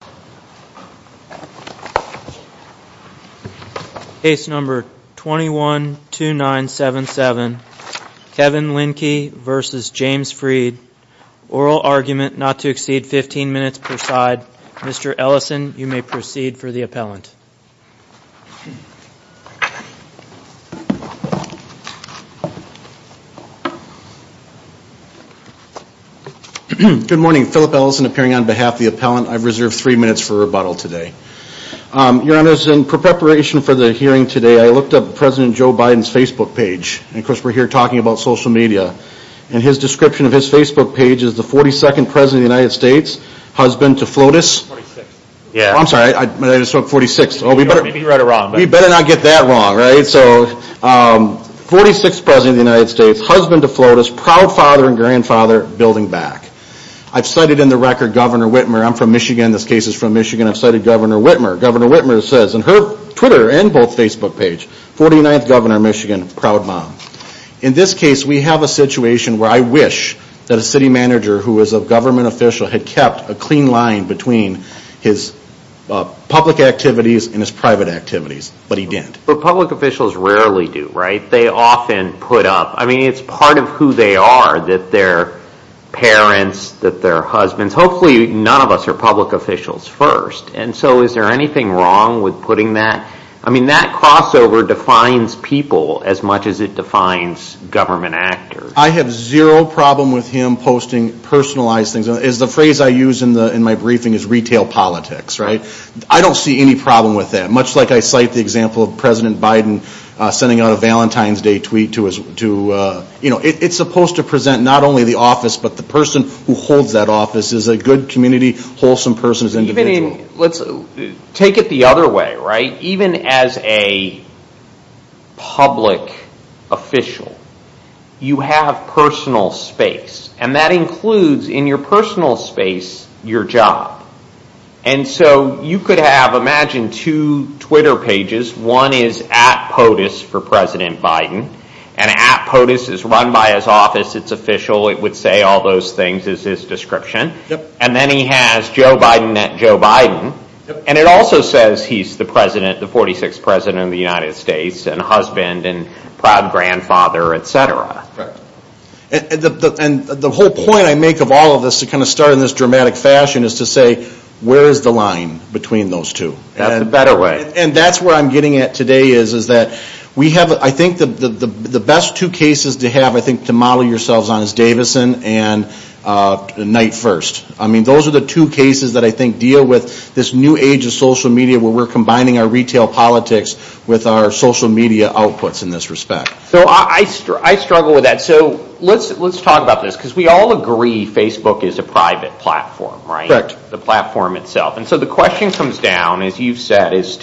Oral argument not to exceed 15 minutes per side. Mr. Ellison, you may proceed for the appellant. Good morning. Philip Ellison appearing on behalf of the appellant. I've reserved three minutes for the appellant. Three minutes for rebuttal today. Your Honor, in preparation for the hearing today, I looked up President Joe Biden's Facebook page. And of course we're here talking about social media. And his description of his Facebook page is the 42nd President of the United States, husband to FLOTUS. I'm sorry, I just spoke 46th. We better not get that wrong, right? So, 46th President of the United States, husband to FLOTUS, proud father and grandfather, building back. I've cited in the record Governor Whitmer. I'm from Michigan. This case is from Michigan. I've cited Governor Whitmer. Governor Whitmer says in her Twitter and both Facebook pages, 49th Governor of Michigan, proud mom. In this case, we have a situation where I wish that a city manager who is a government official had kept a clean line between his public activities and his private activities. But he didn't. But public officials rarely do, right? They often put up, I mean, it's part of who they are, that they're parents, that they're husbands. Hopefully none of us are public officials first. And so is there anything wrong with putting that? I mean, that crossover defines people as much as it defines government actors. I have zero problem with him posting personalized things. The phrase I use in my briefing is retail politics, right? I don't see any problem with that, much like I cite the example of President Biden sending out a Valentine's Day tweet. It's supposed to present not only the office, but the person who holds that office is a good community, wholesome person as an individual. Take it the other way, right? Even as a public official, you have personal space, and that includes in your personal space, your job. And so you could have, imagine two Twitter pages. One is at POTUS for President Biden, and at POTUS is run by his office. It's official. It would say all those things as his description. And then he has Joe Biden at Joe Biden. And it also says he's the President, the 46th President of the United States, and husband, and proud grandfather, et cetera. And the whole point I make of all of this, to kind of start in this dramatic fashion, is to say, where is the line between those two? And that's where I'm getting at today, is that we have, I think the best two cases to have, I think, to model yourselves on is Davison and Night First. I mean, those are the two cases that I think deal with this new age of social media where we're combining our retail politics with our social media outputs in this respect. So I struggle with that. So let's talk about this, because we all agree Facebook is a private platform, right? And one of the things you've said is,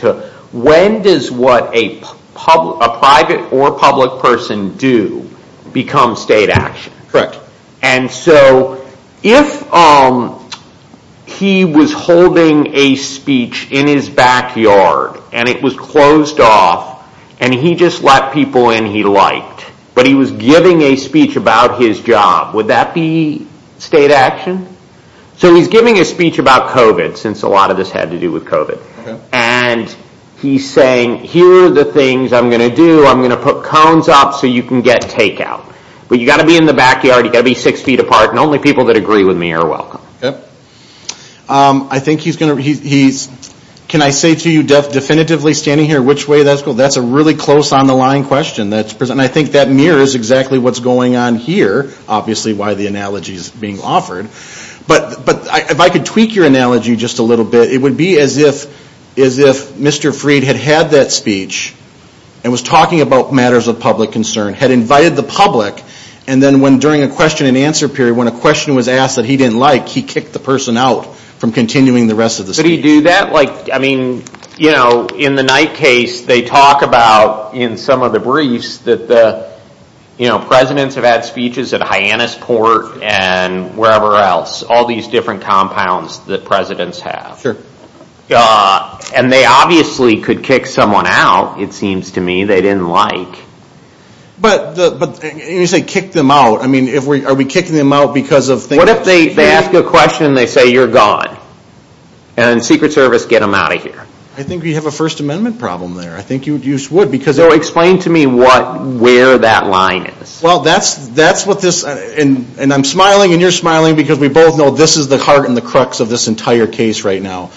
when does what a private or public person do become state action? Correct. And so if he was holding a speech in his backyard, and it was closed off, and he just let people in he liked, but he was giving a speech about his job, would that be state action? So he's giving a speech about COVID, since a lot of this had to do with COVID. And he's saying, here are the things I'm going to do, I'm going to put cones up so you can get takeout. But you've got to be in the backyard, you've got to be six feet apart, and only people that agree with me are welcome. I think he's going to, he's, can I say to you definitively standing here, which way that's going? But if I could tweak your analogy just a little bit, it would be as if Mr. Freed had had that speech, and was talking about matters of public concern, had invited the public, and then when during a question and answer period, when a question was asked that he didn't like, he kicked the person out from continuing the rest of the speech. All these different compounds that presidents have. Sure. And they obviously could kick someone out, it seems to me, they didn't like. But, you say kick them out, I mean, are we kicking them out because of things? What if they ask a question and they say, you're gone? And secret service, get them out of here. I think we have a First Amendment problem there, I think you would, because So explain to me what, where that line is. Well, that's what this, and I'm smiling and you're smiling because we both know this is the heart and the crux of this entire case right now.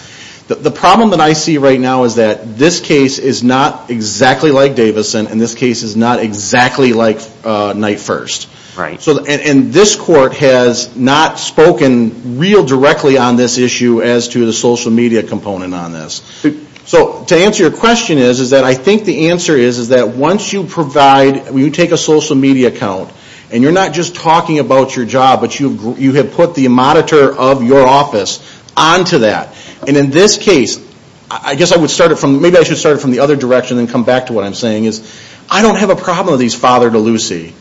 The problem that I see right now is that this case is not exactly like Davison, and this case is not exactly like Night First. Right. And this court has not spoken real directly on this issue as to the social media component on this. So, to answer your question is, is that I think the answer is, is that once you provide, when you take a social media account, and you're not just talking about your job, but you have put the monitor of your office onto that. And in this case, I guess I would start it from, maybe I should start it from the other direction and come back to what I'm saying is, I don't have a problem with these father to Lucy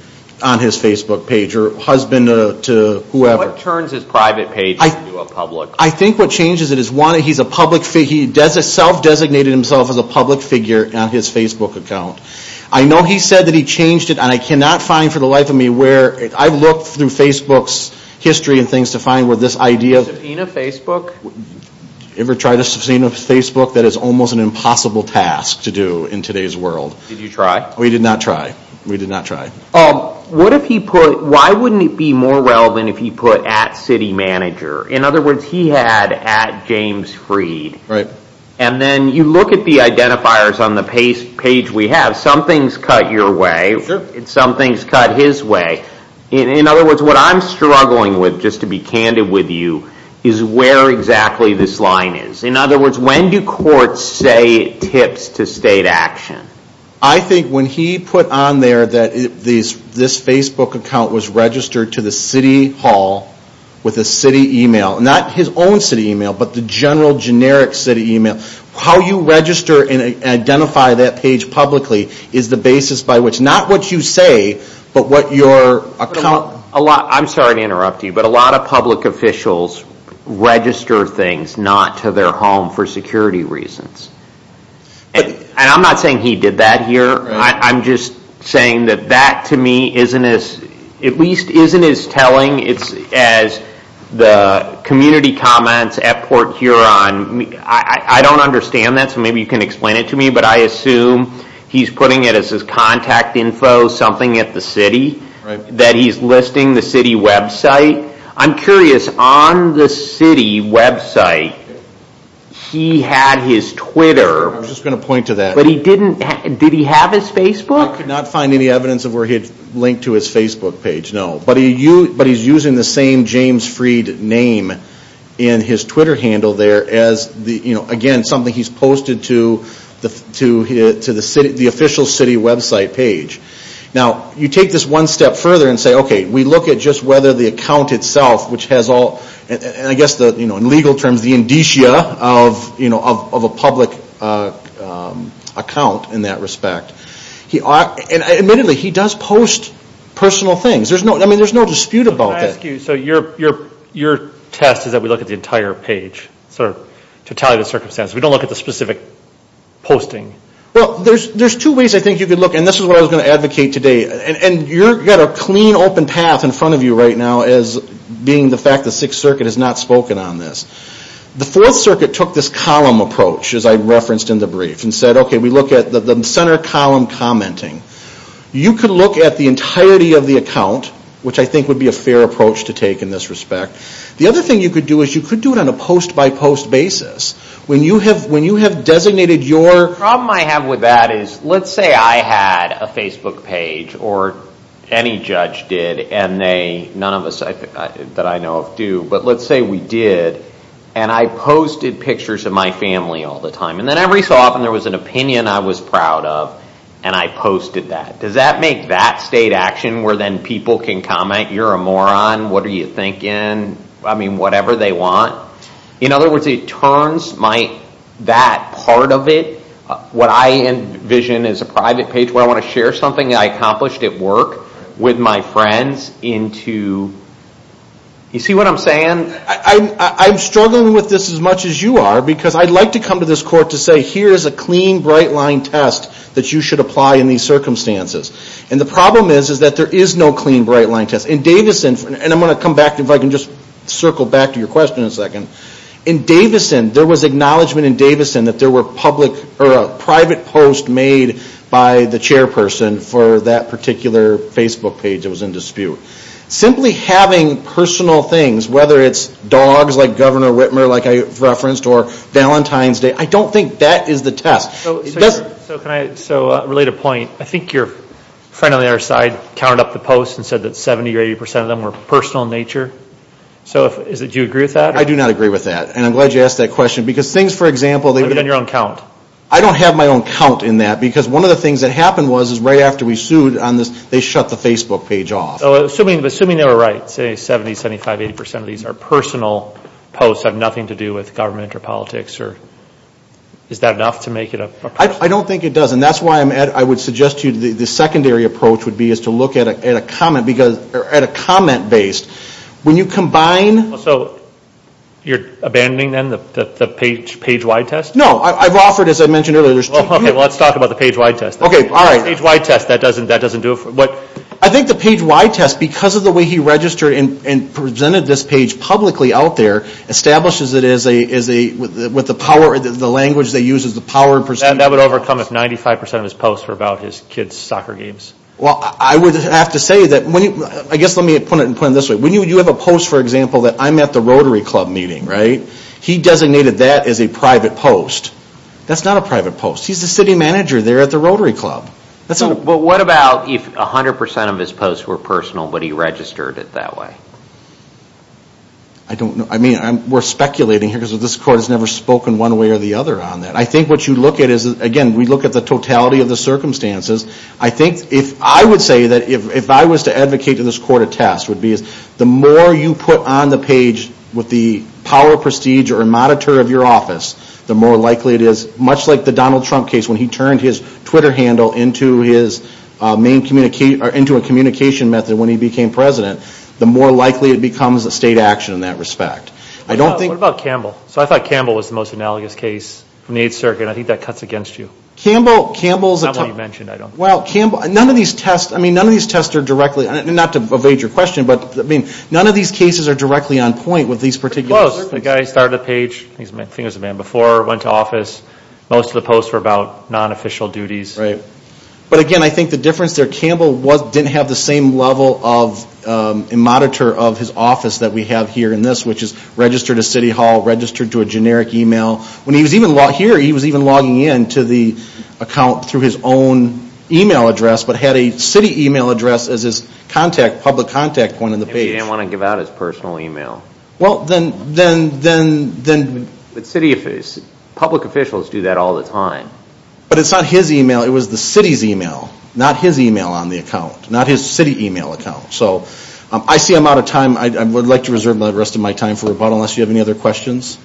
on his Facebook page, or husband to whoever. What turns his private page into a public? I think what changes it is, one, he's a public, he self-designated himself as a public figure on his Facebook account. I know he said that he changed it, and I cannot find for the life of me where, I've looked through Facebook's history and things to find where this idea of Subpoena Facebook? Ever tried to subpoena Facebook? That is almost an impossible task to do in today's world. Did you try? We did not try. We did not try. What if he put, why wouldn't it be more relevant if he put at city manager? In other words, he had at James Freed. Right. And then you look at the identifiers on the page we have, some things cut your way, some things cut his way. In other words, what I'm struggling with, just to be candid with you, is where exactly this line is. In other words, when do courts say tips to state action? I think when he put on there that this Facebook account was registered to the city hall with a city email. Not his own city email, but the general generic city email. How you register and identify that page publicly is the basis by which, not what you say, but what your account. I'm sorry to interrupt you, but a lot of public officials register things not to their home for security reasons. I'm not saying he did that here. I'm just saying that that, to me, at least isn't as telling as the community comments at Port Huron. I don't understand that, so maybe you can explain it to me. But I assume he's putting it as his contact info, something at the city, that he's listing the city website. I'm curious, on the city website, he had his Twitter. I was just going to point to that. Did he have his Facebook? I could not find any evidence of where he had linked to his Facebook page, no. But he's using the same James Freed name in his Twitter handle there as, again, something he's posted to the official city website page. Now, you take this one step further and say, okay, we look at just whether the account itself, which has all, I guess in legal terms, the indicia of a public account in that respect. Admittedly, he does post personal things. There's no dispute about that. Your test is that we look at the entire page, to tally the circumstances. We don't look at the specific posting. Well, there's two ways I think you could look. And this is what I was going to advocate today. And you've got a clean, open path in front of you right now as being the fact that Sixth Circuit has not spoken on this. The Fourth Circuit took this column approach, as I referenced in the brief, and said, okay, we look at the center column commenting. You could look at the entirety of the account, which I think would be a fair approach to take in this respect. The other thing you could do is you could do it on a post-by-post basis. When you have designated your... The problem I have with that is, let's say I had a Facebook page, or any judge did, and none of us that I know of do. But let's say we did, and I posted pictures of my family all the time. And then every so often there was an opinion I was proud of, and I posted that. Does that make that state action where then people can comment, you're a moron, what are you thinking? I mean, whatever they want. In other words, it turns that part of it, what I envision as a private page where I want to share something I accomplished at work, with my friends, into... You see what I'm saying? I'm struggling with this as much as you are, because I'd like to come to this court to say, here's a clean, bright-line test that you should apply in these circumstances. And the problem is that there is no clean, bright-line test. And I'm going to come back, if I can just circle back to your question in a second. In Davison, there was acknowledgment in Davison that there were private posts made by the chairperson for that particular Facebook page that was in dispute. Simply having personal things, whether it's dogs like Governor Whitmer, like I referenced, or Valentine's Day, I don't think that is the test. So can I relate a point? I think your friend on the other side counted up the posts and said that 70 or 80% of them were personal in nature. Do you agree with that? I do not agree with that. And I'm glad you asked that question, because things, for example... You've done your own count. I don't have my own count in that, because one of the things that happened was, is right after we sued on this, they shut the Facebook page off. So assuming they were right, say 70, 75, 80% of these are personal posts, have nothing to do with government or politics, is that enough to make it a... I don't think it does. And that's why I would suggest to you the secondary approach would be is to look at a comment-based. When you combine... So you're abandoning, then, the page-wide test? No. I've offered, as I mentioned earlier... Okay, well, let's talk about the page-wide test. Okay, all right. The page-wide test, that doesn't do it for... I think the page-wide test, because of the way he registered and presented this page publicly out there, establishes it as a... With the language they use as the power... And that would overcome if 95% of his posts were about his kids' soccer games. Well, I would have to say that... I guess let me put it this way. When you have a post, for example, that I'm at the Rotary Club meeting, right? He designated that as a private post. That's not a private post. He's the city manager there at the Rotary Club. Well, what about if 100% of his posts were personal, but he registered it that way? I don't know. I mean, we're speculating here, because this court has never spoken one way or the other on that. I think what you look at is, again, we look at the totality of the circumstances. I think if I would say that if I was to advocate to this court a test, it would be the more you put on the page with the power, prestige, or monitor of your office, the more likely it is, much like the Donald Trump case, when he turned his Twitter handle into a communication method when he became president, the more likely it becomes a state action in that respect. I don't think... What about Campbell? So I thought Campbell was the most analogous case from the 8th Circuit. I think that cuts against you. Campbell is a... That's not what you mentioned. Well, Campbell... None of these tests are directly... Not to evade your question, but none of these cases are directly on point with these particular... I think it was a man before, went to office. Most of the posts were about non-official duties. Right. But again, I think the difference there, Campbell didn't have the same level of monitor of his office that we have here in this, which is registered to City Hall, registered to a generic email. When he was here, he was even logging in to the account through his own email address, but had a city email address as his public contact point on the page. He didn't want to give out his personal email. Well, then... But city officials, public officials do that all the time. But it's not his email. It was the city's email, not his email on the account, not his city email account. So I see I'm out of time. I would like to reserve the rest of my time for rebuttal unless you have any other questions.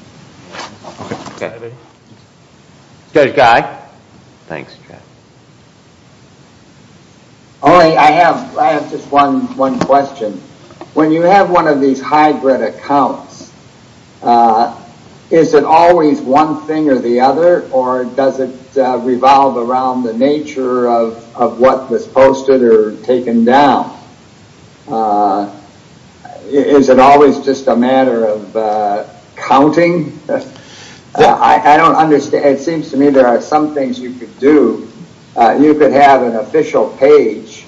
Okay. Judge Guy. Thanks, Chad. I have just one question. When you have one of these hybrid accounts, is it always one thing or the other, or does it revolve around the nature of what was posted or taken down? Is it always just a matter of counting? I don't understand. It seems to me there are some things you could do. You could have an official page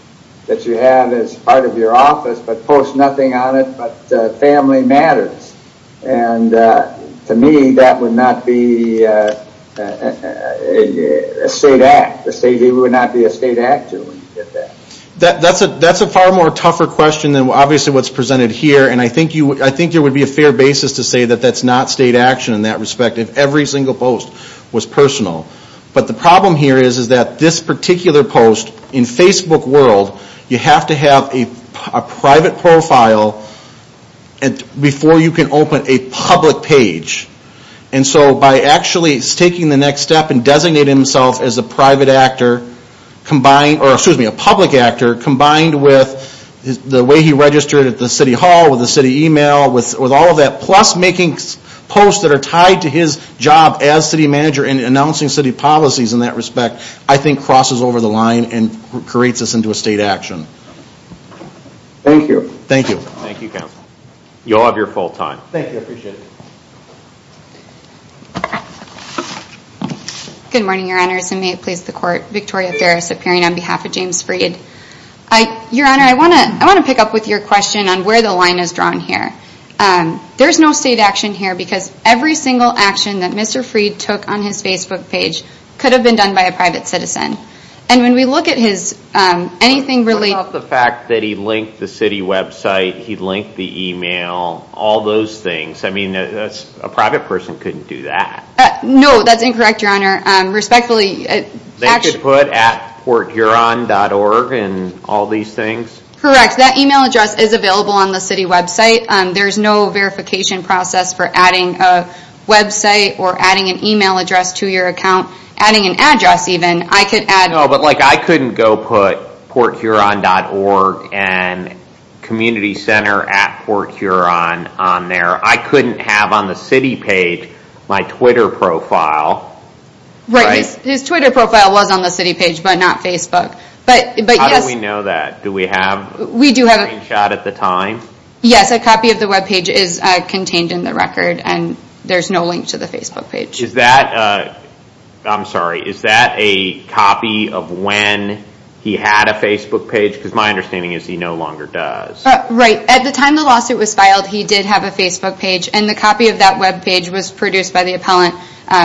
that you have as part of your office, but post nothing on it but family matters. And to me, that would not be a state act. It would not be a state action when you did that. That's a far more tougher question than obviously what's presented here, and I think there would be a fair basis to say that that's not state action in that respect if every single post was personal. But the problem here is that this particular post, in Facebook world, you have to have a private profile before you can open a public page. And so by actually taking the next step and designating himself as a public actor combined with the way he registered at the city hall, with the city email, with all of that, plus making posts that are tied to his job as city manager and announcing city policies in that respect, I think crosses over the line and creates this into a state action. Thank you. Thank you. Thank you, counsel. You'll have your full time. Thank you, I appreciate it. Good morning, Your Honor. May it please the Court. Victoria Ferris appearing on behalf of James Freed. Your Honor, I want to pick up with your question on where the line is drawn here. There's no state action here because every single action that Mr. Freed took on his Facebook page could have been done by a private citizen. And when we look at his anything related What about the fact that he linked the city website, he linked the email, all those things? I mean, a private person couldn't do that. No, that's incorrect, Your Honor. Respectfully, They could put at PortHuron.org and all these things? Correct, that email address is available on the city website. There's no verification process for adding a website or adding an email address to your account. Adding an address even, I could add No, but like I couldn't go put PortHuron.org and Community Center at PortHuron on there. I couldn't have on the city page my Twitter profile. Right, his Twitter profile was on the city page but not Facebook. How do we know that? Do we have a screenshot at the time? Yes, a copy of the webpage is contained in the record and there's no link to the Facebook page. I'm sorry, is that a copy of when he had a Facebook page? Because my understanding is he no longer does. Right, at the time the lawsuit was filed, he did have a Facebook page and the copy of that webpage was produced by the appellant.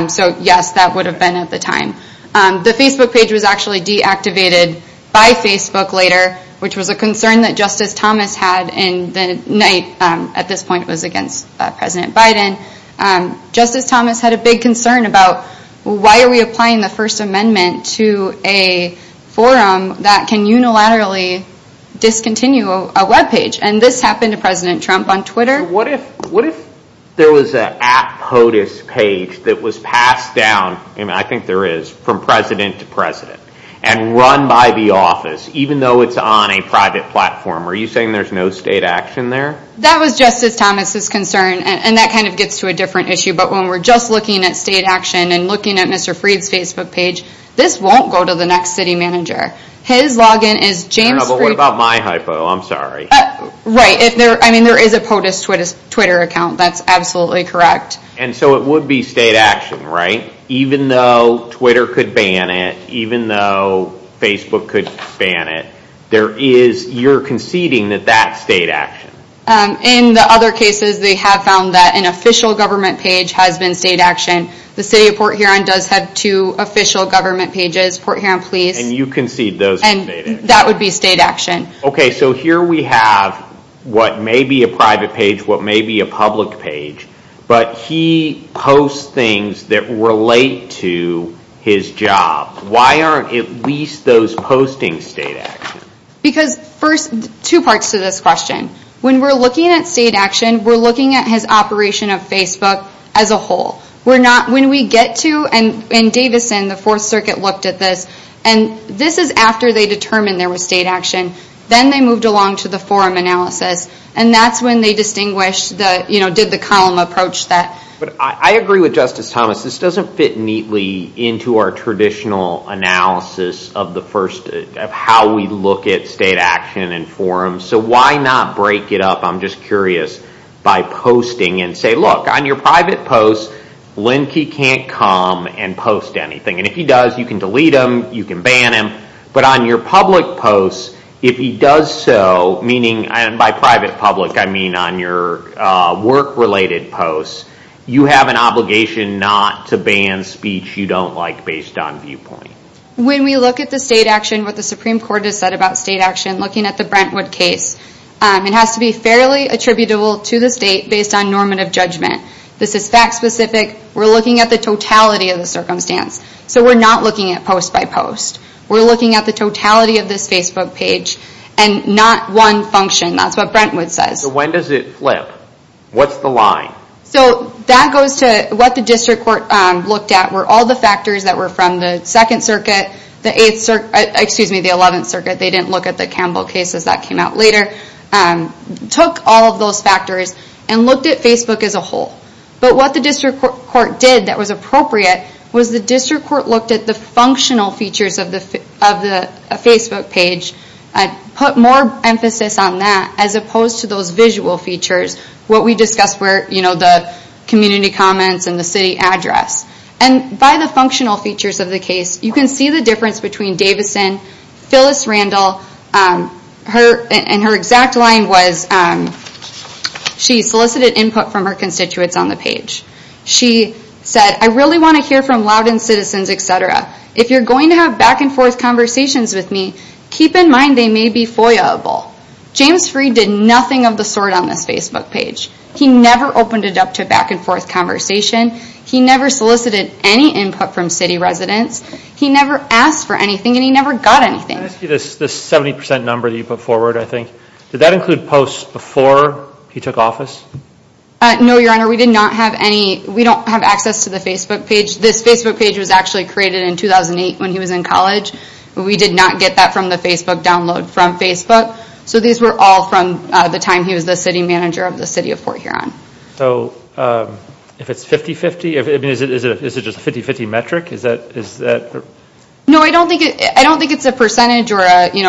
So yes, that would have been at the time. The Facebook page was actually deactivated by Facebook later, which was a concern that Justice Thomas had in the night at this point was against President Biden. Justice Thomas had a big concern about why are we applying the First Amendment to a forum that can unilaterally discontinue a webpage? And this happened to President Trump on Twitter. What if there was an app POTUS page that was passed down, I think there is, from President to President and run by the office even though it's on a private platform? Are you saying there's no state action there? That was Justice Thomas' concern and that kind of gets to a different issue. But when we're just looking at state action and looking at Mr. Freed's Facebook page, this won't go to the next city manager. His login is James Freed. What about my hypo? I'm sorry. Right. I mean, there is a POTUS Twitter account. That's absolutely correct. And so it would be state action, right? Even though Twitter could ban it, even though Facebook could ban it, you're conceding that that's state action? In the other cases, they have found that an official government page has been state action. The city of Port Huron does have two official government pages, Port Huron Police. And you concede those are state action? That would be state action. Okay. So here we have what may be a private page, what may be a public page, but he posts things that relate to his job. Why aren't at least those posting state action? Because first, two parts to this question. When we're looking at state action, we're looking at his operation of Facebook as a whole. When we get to, and Davison, the Fourth Circuit looked at this, and this is after they determined there was state action. Then they moved along to the forum analysis. And that's when they distinguished the, you know, did the column approach that. I agree with Justice Thomas. This doesn't fit neatly into our traditional analysis of the first, of how we look at state action and forums. So why not break it up, I'm just curious, by posting and say, look, on your private posts, Linkey can't come and post anything. And if he does, you can delete him, you can ban him. But on your public posts, if he does so, meaning by private public, I mean on your work-related posts, you have an obligation not to ban speech you don't like based on viewpoint. When we look at the state action, what the Supreme Court has said about state action, looking at the Brentwood case, it has to be fairly attributable to the state based on normative judgment. This is fact specific. We're looking at the totality of the circumstance. So we're not looking at post by post. We're looking at the totality of this Facebook page, and not one function. That's what Brentwood says. So when does it flip? What's the line? So that goes to what the district court looked at, where all the factors that were from the Second Circuit, the Eighth Circuit, excuse me, the Eleventh Circuit, they didn't look at the Campbell cases, that came out later, took all of those factors and looked at Facebook as a whole. But what the district court did that was appropriate was the district court looked at the functional features of the Facebook page, put more emphasis on that, as opposed to those visual features, what we discussed were the community comments and the city address. And by the functional features of the case, you can see the difference between Davison, Phyllis Randall, and her exact line was she solicited input from her constituents on the page. She said, I really want to hear from Loudoun citizens, etc. If you're going to have back-and-forth conversations with me, keep in mind they may be FOIA-able. James Freed did nothing of the sort on this Facebook page. He never opened it up to back-and-forth conversation. He never solicited any input from city residents. He never asked for anything, and he never got anything. This 70% number that you put forward, I think, did that include posts before he took office? No, Your Honor, we did not have any. We don't have access to the Facebook page. This Facebook page was actually created in 2008 when he was in college. We did not get that from the Facebook download from Facebook. So these were all from the time he was the city manager of the city of Fort Huron. So if it's 50-50, is it just a 50-50 metric? No, I don't think it's a percentage or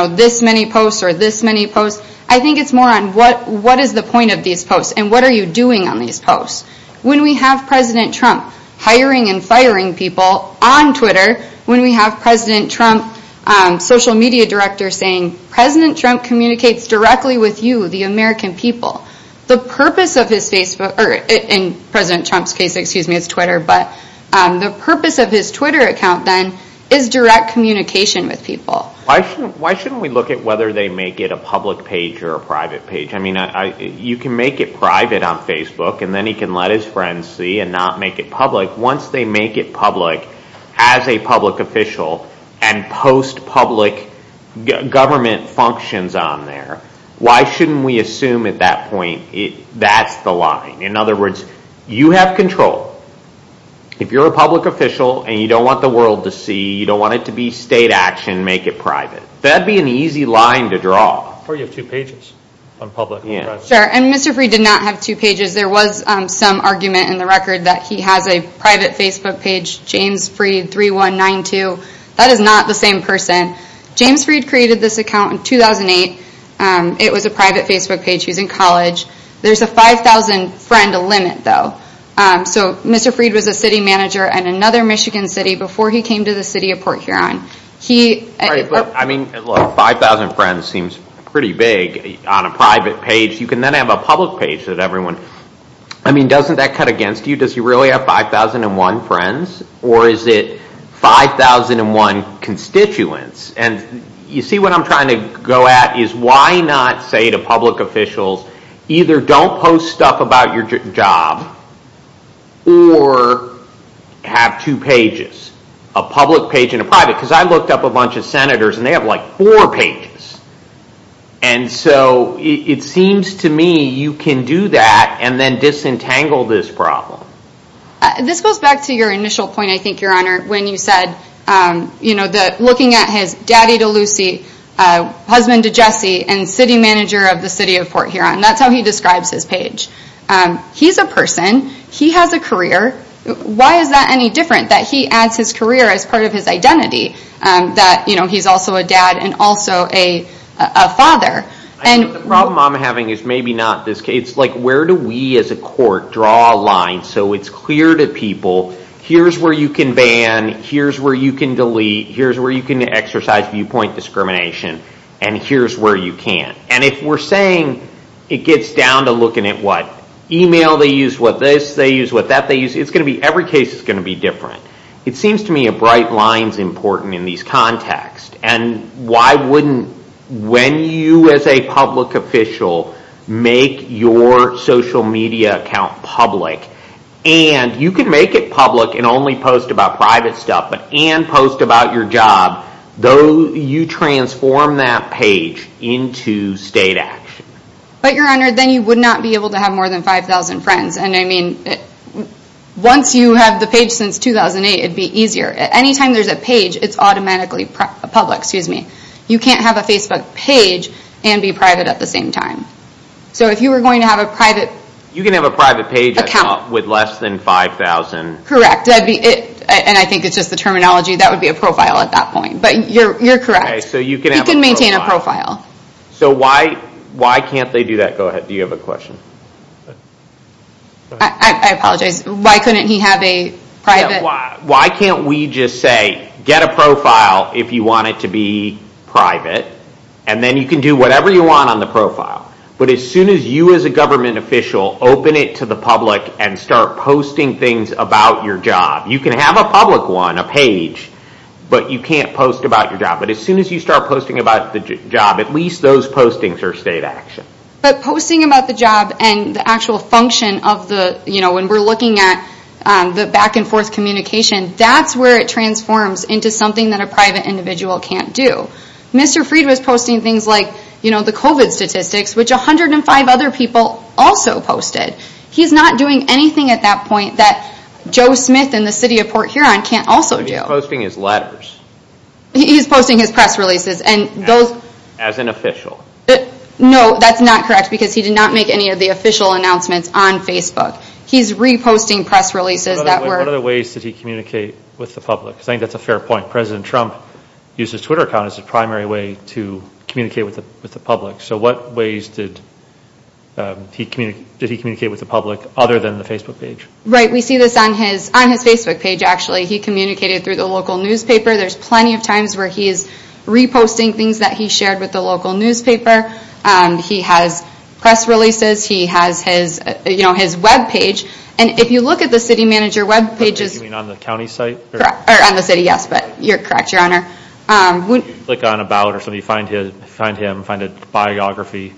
this many posts or this many posts. I think it's more on what is the point of these posts and what are you doing on these posts. When we have President Trump hiring and firing people on Twitter, when we have President Trump, social media director saying, President Trump communicates directly with you, the American people, the purpose of his Facebook, or in President Trump's case, excuse me, his Twitter, but the purpose of his Twitter account then is direct communication with people. Why shouldn't we look at whether they make it a public page or a private page? I mean, you can make it private on Facebook and then he can let his friends see and not make it public. Once they make it public as a public official and post public government functions on there, why shouldn't we assume at that point that's the line? In other words, you have control. If you're a public official and you don't want the world to see, you don't want it to be state action, make it private. That would be an easy line to draw. Or you have two pages on public. Sure, and Mr. Freed did not have two pages. There was some argument in the record that he has a private Facebook page, James Freed 3192. That is not the same person. James Freed created this account in 2008. It was a private Facebook page. He was in college. There's a 5,000 friend limit, though. Mr. Freed was a city manager in another Michigan city before he came to the city of Port Huron. 5,000 friends seems pretty big on a private page. You can then have a public page that everyone I mean, doesn't that cut against you? Does he really have 5,001 friends or is it 5,001 constituents? You see what I'm trying to go at is why not say to public officials either don't post stuff about your job or have two pages, a public page and a private because I looked up a bunch of senators and they have like four pages. And so it seems to me you can do that and then disentangle this problem. This goes back to your initial point, I think, Your Honor, when you said looking at his daddy to Lucy, husband to Jesse and city manager of the city of Port Huron. That's how he describes his page. He's a person. He has a career. Why is that any different that he adds his career as part of his identity that he's also a dad and also a father? The problem I'm having is maybe not this case. It's like where do we as a court draw a line so it's clear to people here's where you can ban, here's where you can delete, here's where you can exercise viewpoint discrimination and here's where you can't. And if we're saying it gets down to looking at what email they use, what this they use, what that they use, it's going to be every case is going to be different. It seems to me a bright line is important in these contexts and why wouldn't when you as a public official make your social media account public and you can make it public and only post about private stuff and post about your job, though you transform that page into state action. But your honor, then you would not be able to have more than 5,000 friends. And I mean, once you have the page since 2008, it'd be easier. Anytime there's a page, it's automatically public. You can't have a Facebook page and be private at the same time. So if you were going to have a private... You can have a private page with less than 5,000... Correct. And I think it's just the terminology. That would be a profile at that point. But you're correct. You can maintain a profile. So why can't they do that? Go ahead. Do you have a question? I apologize. Why couldn't he have a private... Why can't we just say, get a profile if you want it to be private and then you can do whatever you want on the profile. But as soon as you as a government official open it to the public and start posting things about your job... You can have a public one, a page, but you can't post about your job. But as soon as you start posting about the job, at least those postings are state action. But posting about the job and the actual function of the... When we're looking at the back and forth communication, that's where it transforms into something that a private individual can't do. Mr. Fried was posting things like the COVID statistics, which 105 other people also posted. He's not doing anything at that point that Joe Smith and the city of Port Huron can't also do. He's posting his letters. He's posting his press releases. As an official. No, that's not correct, because he did not make any of the official announcements on Facebook. He's reposting press releases that were... What other ways did he communicate with the public? I think that's a fair point. President Trump uses Twitter account as a primary way to communicate with the public. So what ways did he communicate with the public other than the Facebook page? We see this on his Facebook page, actually. He communicated through the local newspaper. There's plenty of times where he is reposting things that he shared with the local newspaper. He has press releases. He has his web page. And if you look at the city manager web pages... On the city, yes. But you're correct, Your Honor. If you click on About or something, you find him, find a biography,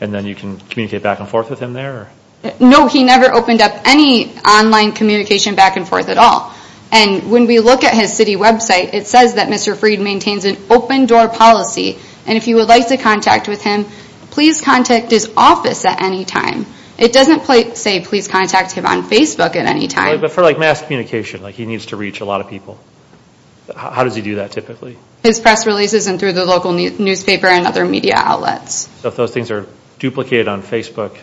and then you can communicate back and forth with him there? No, he never opened up any online communication back and forth at all. And when we look at his city website, it says that Mr. Freed maintains an open-door policy. And if you would like to contact with him, please contact his office at any time. It doesn't say please contact him on Facebook at any time. But for mass communication, he needs to reach a lot of people. How does he do that typically? His press releases and through the local newspaper and other media outlets. So if those things are duplicated on Facebook,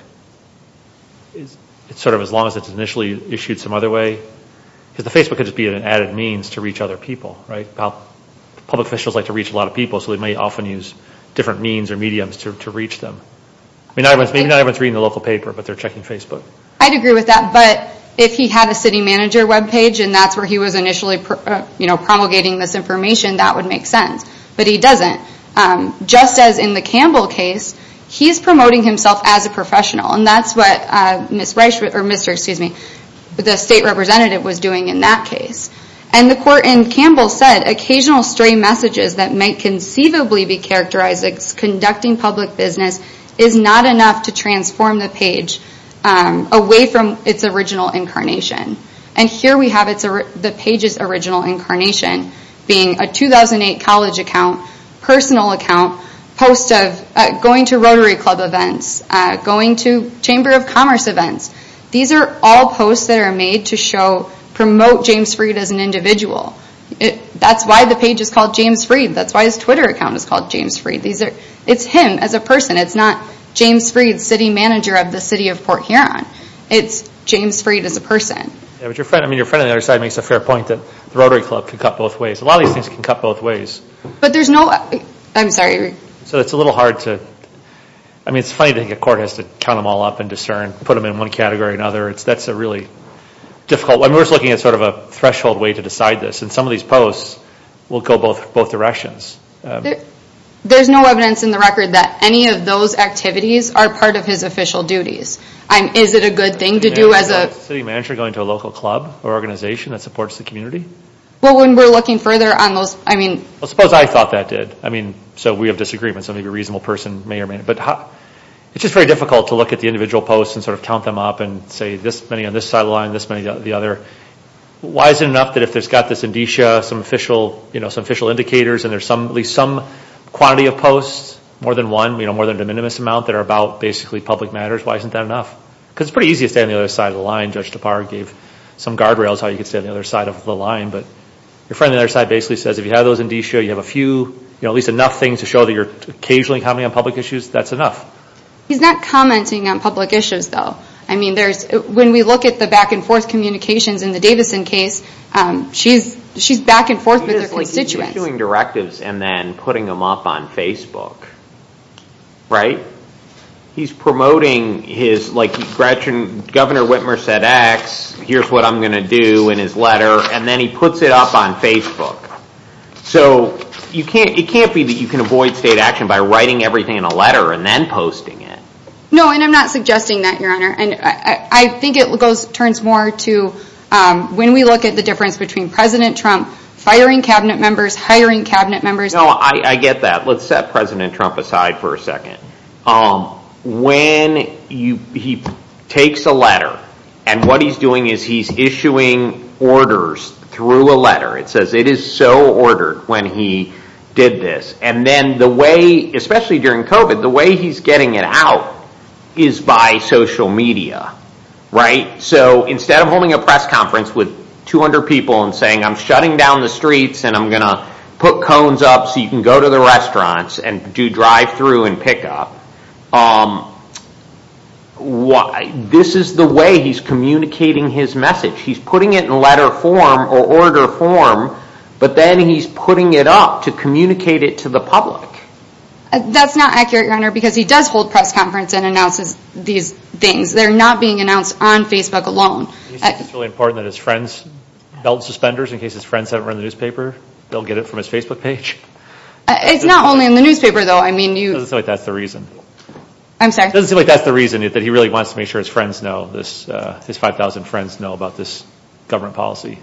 sort of as long as it's initially issued some other way? Because the Facebook could just be an added means to reach other people, right? Public officials like to reach a lot of people, so they may often use different means or mediums to reach them. Maybe not everyone's reading the local paper, but they're checking Facebook. I'd agree with that. But if he had a city manager web page, and that's where he was initially promulgating this information, that would make sense. But he doesn't. Just as in the Campbell case, he's promoting himself as a professional. And that's what Mr. Freed, or Mr., excuse me, the state representative was doing in that case. And the court in Campbell said, occasional stray messages that might conceivably be characterized as conducting public business is not enough to transform the page away from its original incarnation. And here we have the page's original incarnation being a 2008 college account, personal account, post of going to Rotary Club events, going to Chamber of Commerce events. These are all posts that are made to show, promote James Freed as an individual. That's why the page is called James Freed. That's why his Twitter account is called James Freed. It's him as a person. It's not James Freed, city manager of the city of Port Huron. It's James Freed as a person. But your friend, I mean, your friend on the other side makes a fair point that the Rotary Club can cut both ways. A lot of these things can cut both ways. But there's no, I'm sorry. So it's a little hard to, I mean, it's funny to think a court has to count them all up and discern, put them in one category or another. That's a really difficult one. We're just looking at sort of a threshold way to decide this. And some of these posts will go both directions. There's no evidence in the record that any of those activities are part of his official duties. Is it a good thing to do as a... Is a city manager going to a local club or organization that supports the community? Well, when we're looking further on those, I mean... Well, suppose I thought that did. I mean, so we have disagreements. So maybe a reasonable person may or may not. But it's just very difficult to look at the individual posts and sort of count them up and say this many on this side of the line, this many on the other. Why is it enough that if there's got this indicia, some official, you know, some official indicators and there's at least some quantity of posts, more than one, you know, more than a minimum amount that are about basically public matters, why isn't that enough? Because it's pretty easy to stay on the other side of the line. Judge Tapar gave some guardrails how you could stay on the other side of the line. But your friend on the other side basically says if you have those indicia, you have a few, you know, at least enough things to show that you're occasionally commenting on public issues, that's enough. He's not commenting on public issues, though. I mean, there's... When we look at the back and forth communications in the Davison case, she's back and forth with her constituents. He's issuing directives and then putting them up on Facebook. Right? He's promoting his, like, Governor Whitmer said X, here's what I'm going to do in his letter, and then he puts it up on Facebook. So it can't be that you can avoid state action by writing everything in a letter and then posting it. No, and I'm not suggesting that, Your Honor. And I think it turns more to when we look at the difference between President Trump firing Cabinet members, hiring Cabinet members... No, I get that. Let's set President Trump aside for a second. When he takes a letter, and what he's doing is he's issuing orders through a letter. It says it is so ordered when he did this. And then the way, especially during COVID, the way he's getting it out is by social media. Right? So instead of holding a press conference with 200 people and saying, I'm shutting down the streets and I'm going to put cones up so you can go to the restaurants and do drive-through and pick up, this is the way he's communicating his message. He's putting it in letter form or order form, but then he's putting it up to communicate it to the public. That's not accurate, Your Honor, because he does hold press conference and announces these things. They're not being announced on Facebook alone. It's really important that his friends belt suspenders in case his friends haven't read the newspaper. They'll get it from his Facebook page. It's not only in the newspaper, though. It doesn't seem like that's the reason. I'm sorry? It doesn't seem like that's the reason that he really wants to make sure his friends know, his 5,000 friends know about this government policy.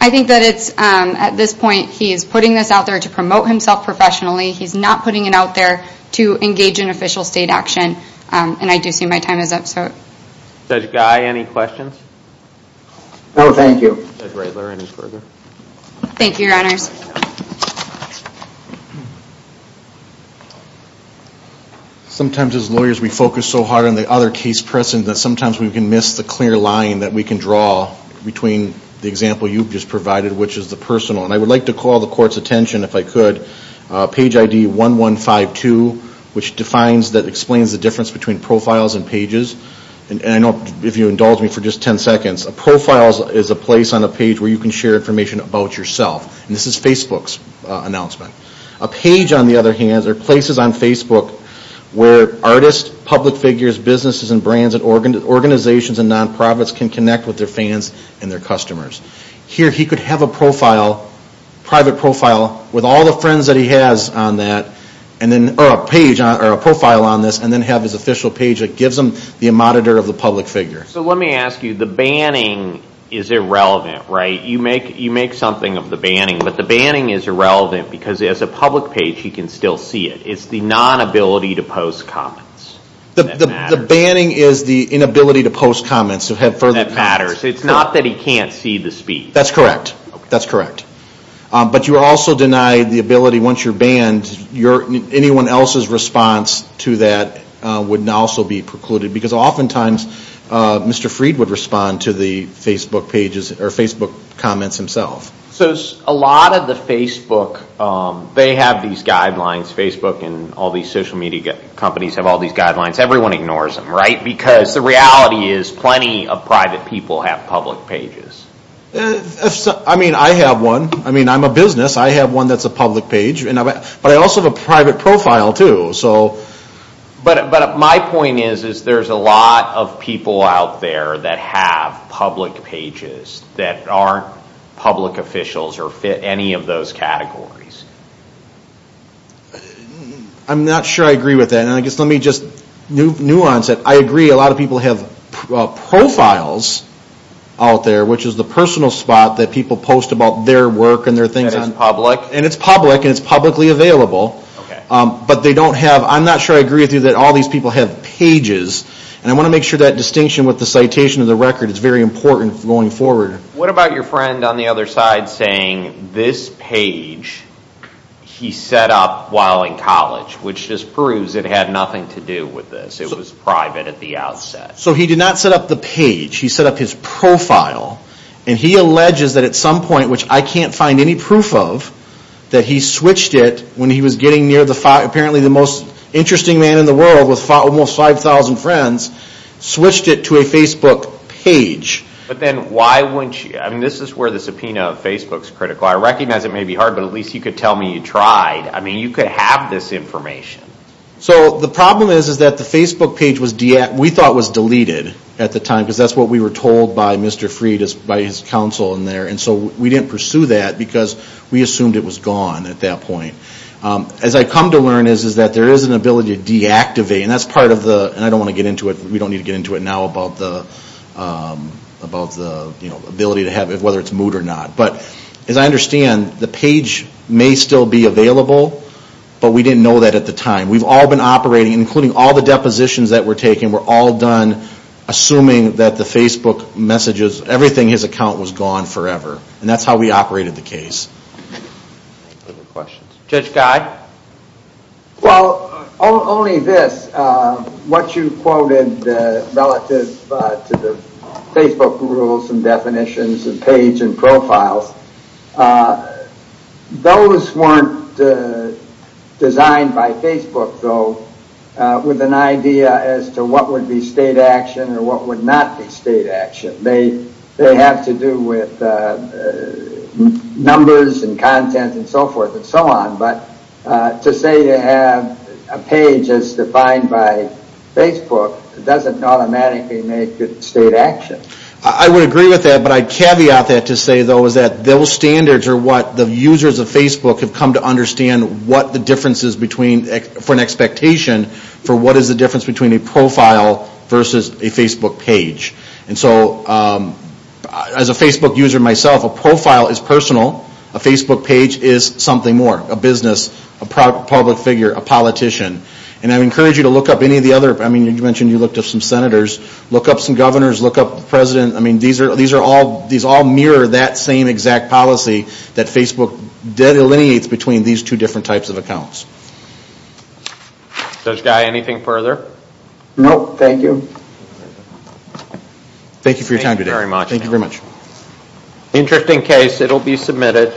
I think that it's, at this point, he is putting this out there to promote himself professionally. He's not putting it out there to engage in official state action. And I do see my time is up. Judge Guy, any questions? No, thank you. Judge Reitler, any further? Thank you, Your Honors. Sometimes, as lawyers, we focus so hard on the other case precedent that sometimes we can miss the clear line that we can draw between the example you've just provided, which is the personal. And I would like to call the Court's attention, if I could, page ID 1152, which defines, that explains the difference between profiles and pages. And I know, if you indulge me for just 10 seconds, a profile is a place on a page where you can share information about yourself. And this is Facebook's announcement. A page, on the other hand, are places on Facebook where artists, public figures, businesses and brands and organizations and non-profits can connect with their fans and their customers. Here, he could have a profile, private profile, with all the friends that he has on that, or a page, or a profile on this, and then have his official page that gives him the monitor of the public figure. So let me ask you, the banning is irrelevant, right? You make something of the banning, but the banning is irrelevant, because as a public page, you can still see it. It's the non-ability to post comments. The banning is the inability to post comments. That matters. It's not that he can't see the speech. That's correct. That's correct. But you also deny the ability, once you're banned, anyone else's response to that would also be precluded. Because oftentimes, Mr. Fried would respond to the Facebook pages, or Facebook comments himself. So a lot of the Facebook, they have these guidelines. Facebook and all these social media companies have all these guidelines. Everyone ignores them, right? Because the reality is, plenty of private people have public pages. I mean, I have one. I mean, I'm a business. I have one that's a public page. But I also have a private profile, too. But my point is, there's a lot of people out there that have public pages that aren't public officials or fit any of those categories. I'm not sure I agree with that. Let me just nuance it. I agree, a lot of people have profiles out there, which is the personal spot that people post about their work and their things. That is public? And it's public, and it's publicly available. But they don't have, I'm not sure I agree with you that all these people have pages. And I want to make sure that distinction with the citation of the record is very important going forward. What about your friend on the other side saying this page he set up while in college, which just proves it had nothing to do with this. It was private at the outset. So he did not set up the page. He set up his profile. And he alleges that at some point, which I can't find any proof of, that he switched it when he was getting near, apparently the most interesting man in the world with almost 5,000 friends, switched it to a Facebook page. But then why wouldn't you? I mean, this is where the subpoena of Facebook is critical. I recognize it may be hard, but at least you could tell me you tried. I mean, you could have this information. So the problem is that the Facebook page we thought was deleted at the time, because that's what we were told by Mr. Fried by his counsel in there. And so we didn't pursue that because we assumed it was gone at that point. As I come to learn, there is an ability to deactivate. And that's part of the... And I don't want to get into it. We don't need to get into it now about the ability to have it, whether it's moot or not. But as I understand, the page may still be available, but we didn't know that at the time. We've all been operating, including all the depositions that were taken, we're all done assuming that the Facebook messages, everything in his account was gone forever. And that's how we operated the case. Any other questions? Judge Guy. Well, only this. What you quoted relative to the Facebook rules and definitions and page and profiles, those weren't designed by Facebook, though, with an idea as to what would be state action or what would not be state action. They have to do with numbers and content and so forth and so on. But to say you have a page as defined by Facebook doesn't automatically make it state action. I would agree with that, but I'd caveat that to say, though, is that those standards are what the users of Facebook have come to understand what the difference is for an expectation for what is the difference between a profile versus a Facebook page. And so as a Facebook user myself, a profile is personal. A Facebook page is something more, a business, a public figure, a politician. And I encourage you to look up any of the other, I mean, you mentioned you looked up some senators. Look up some governors. Look up the president. I mean, these all mirror that same exact policy that Facebook delineates between these two different types of accounts. Judge Guy, anything further? No, thank you. Thank you for your time today. Thank you very much. Interesting case. It will be submitted.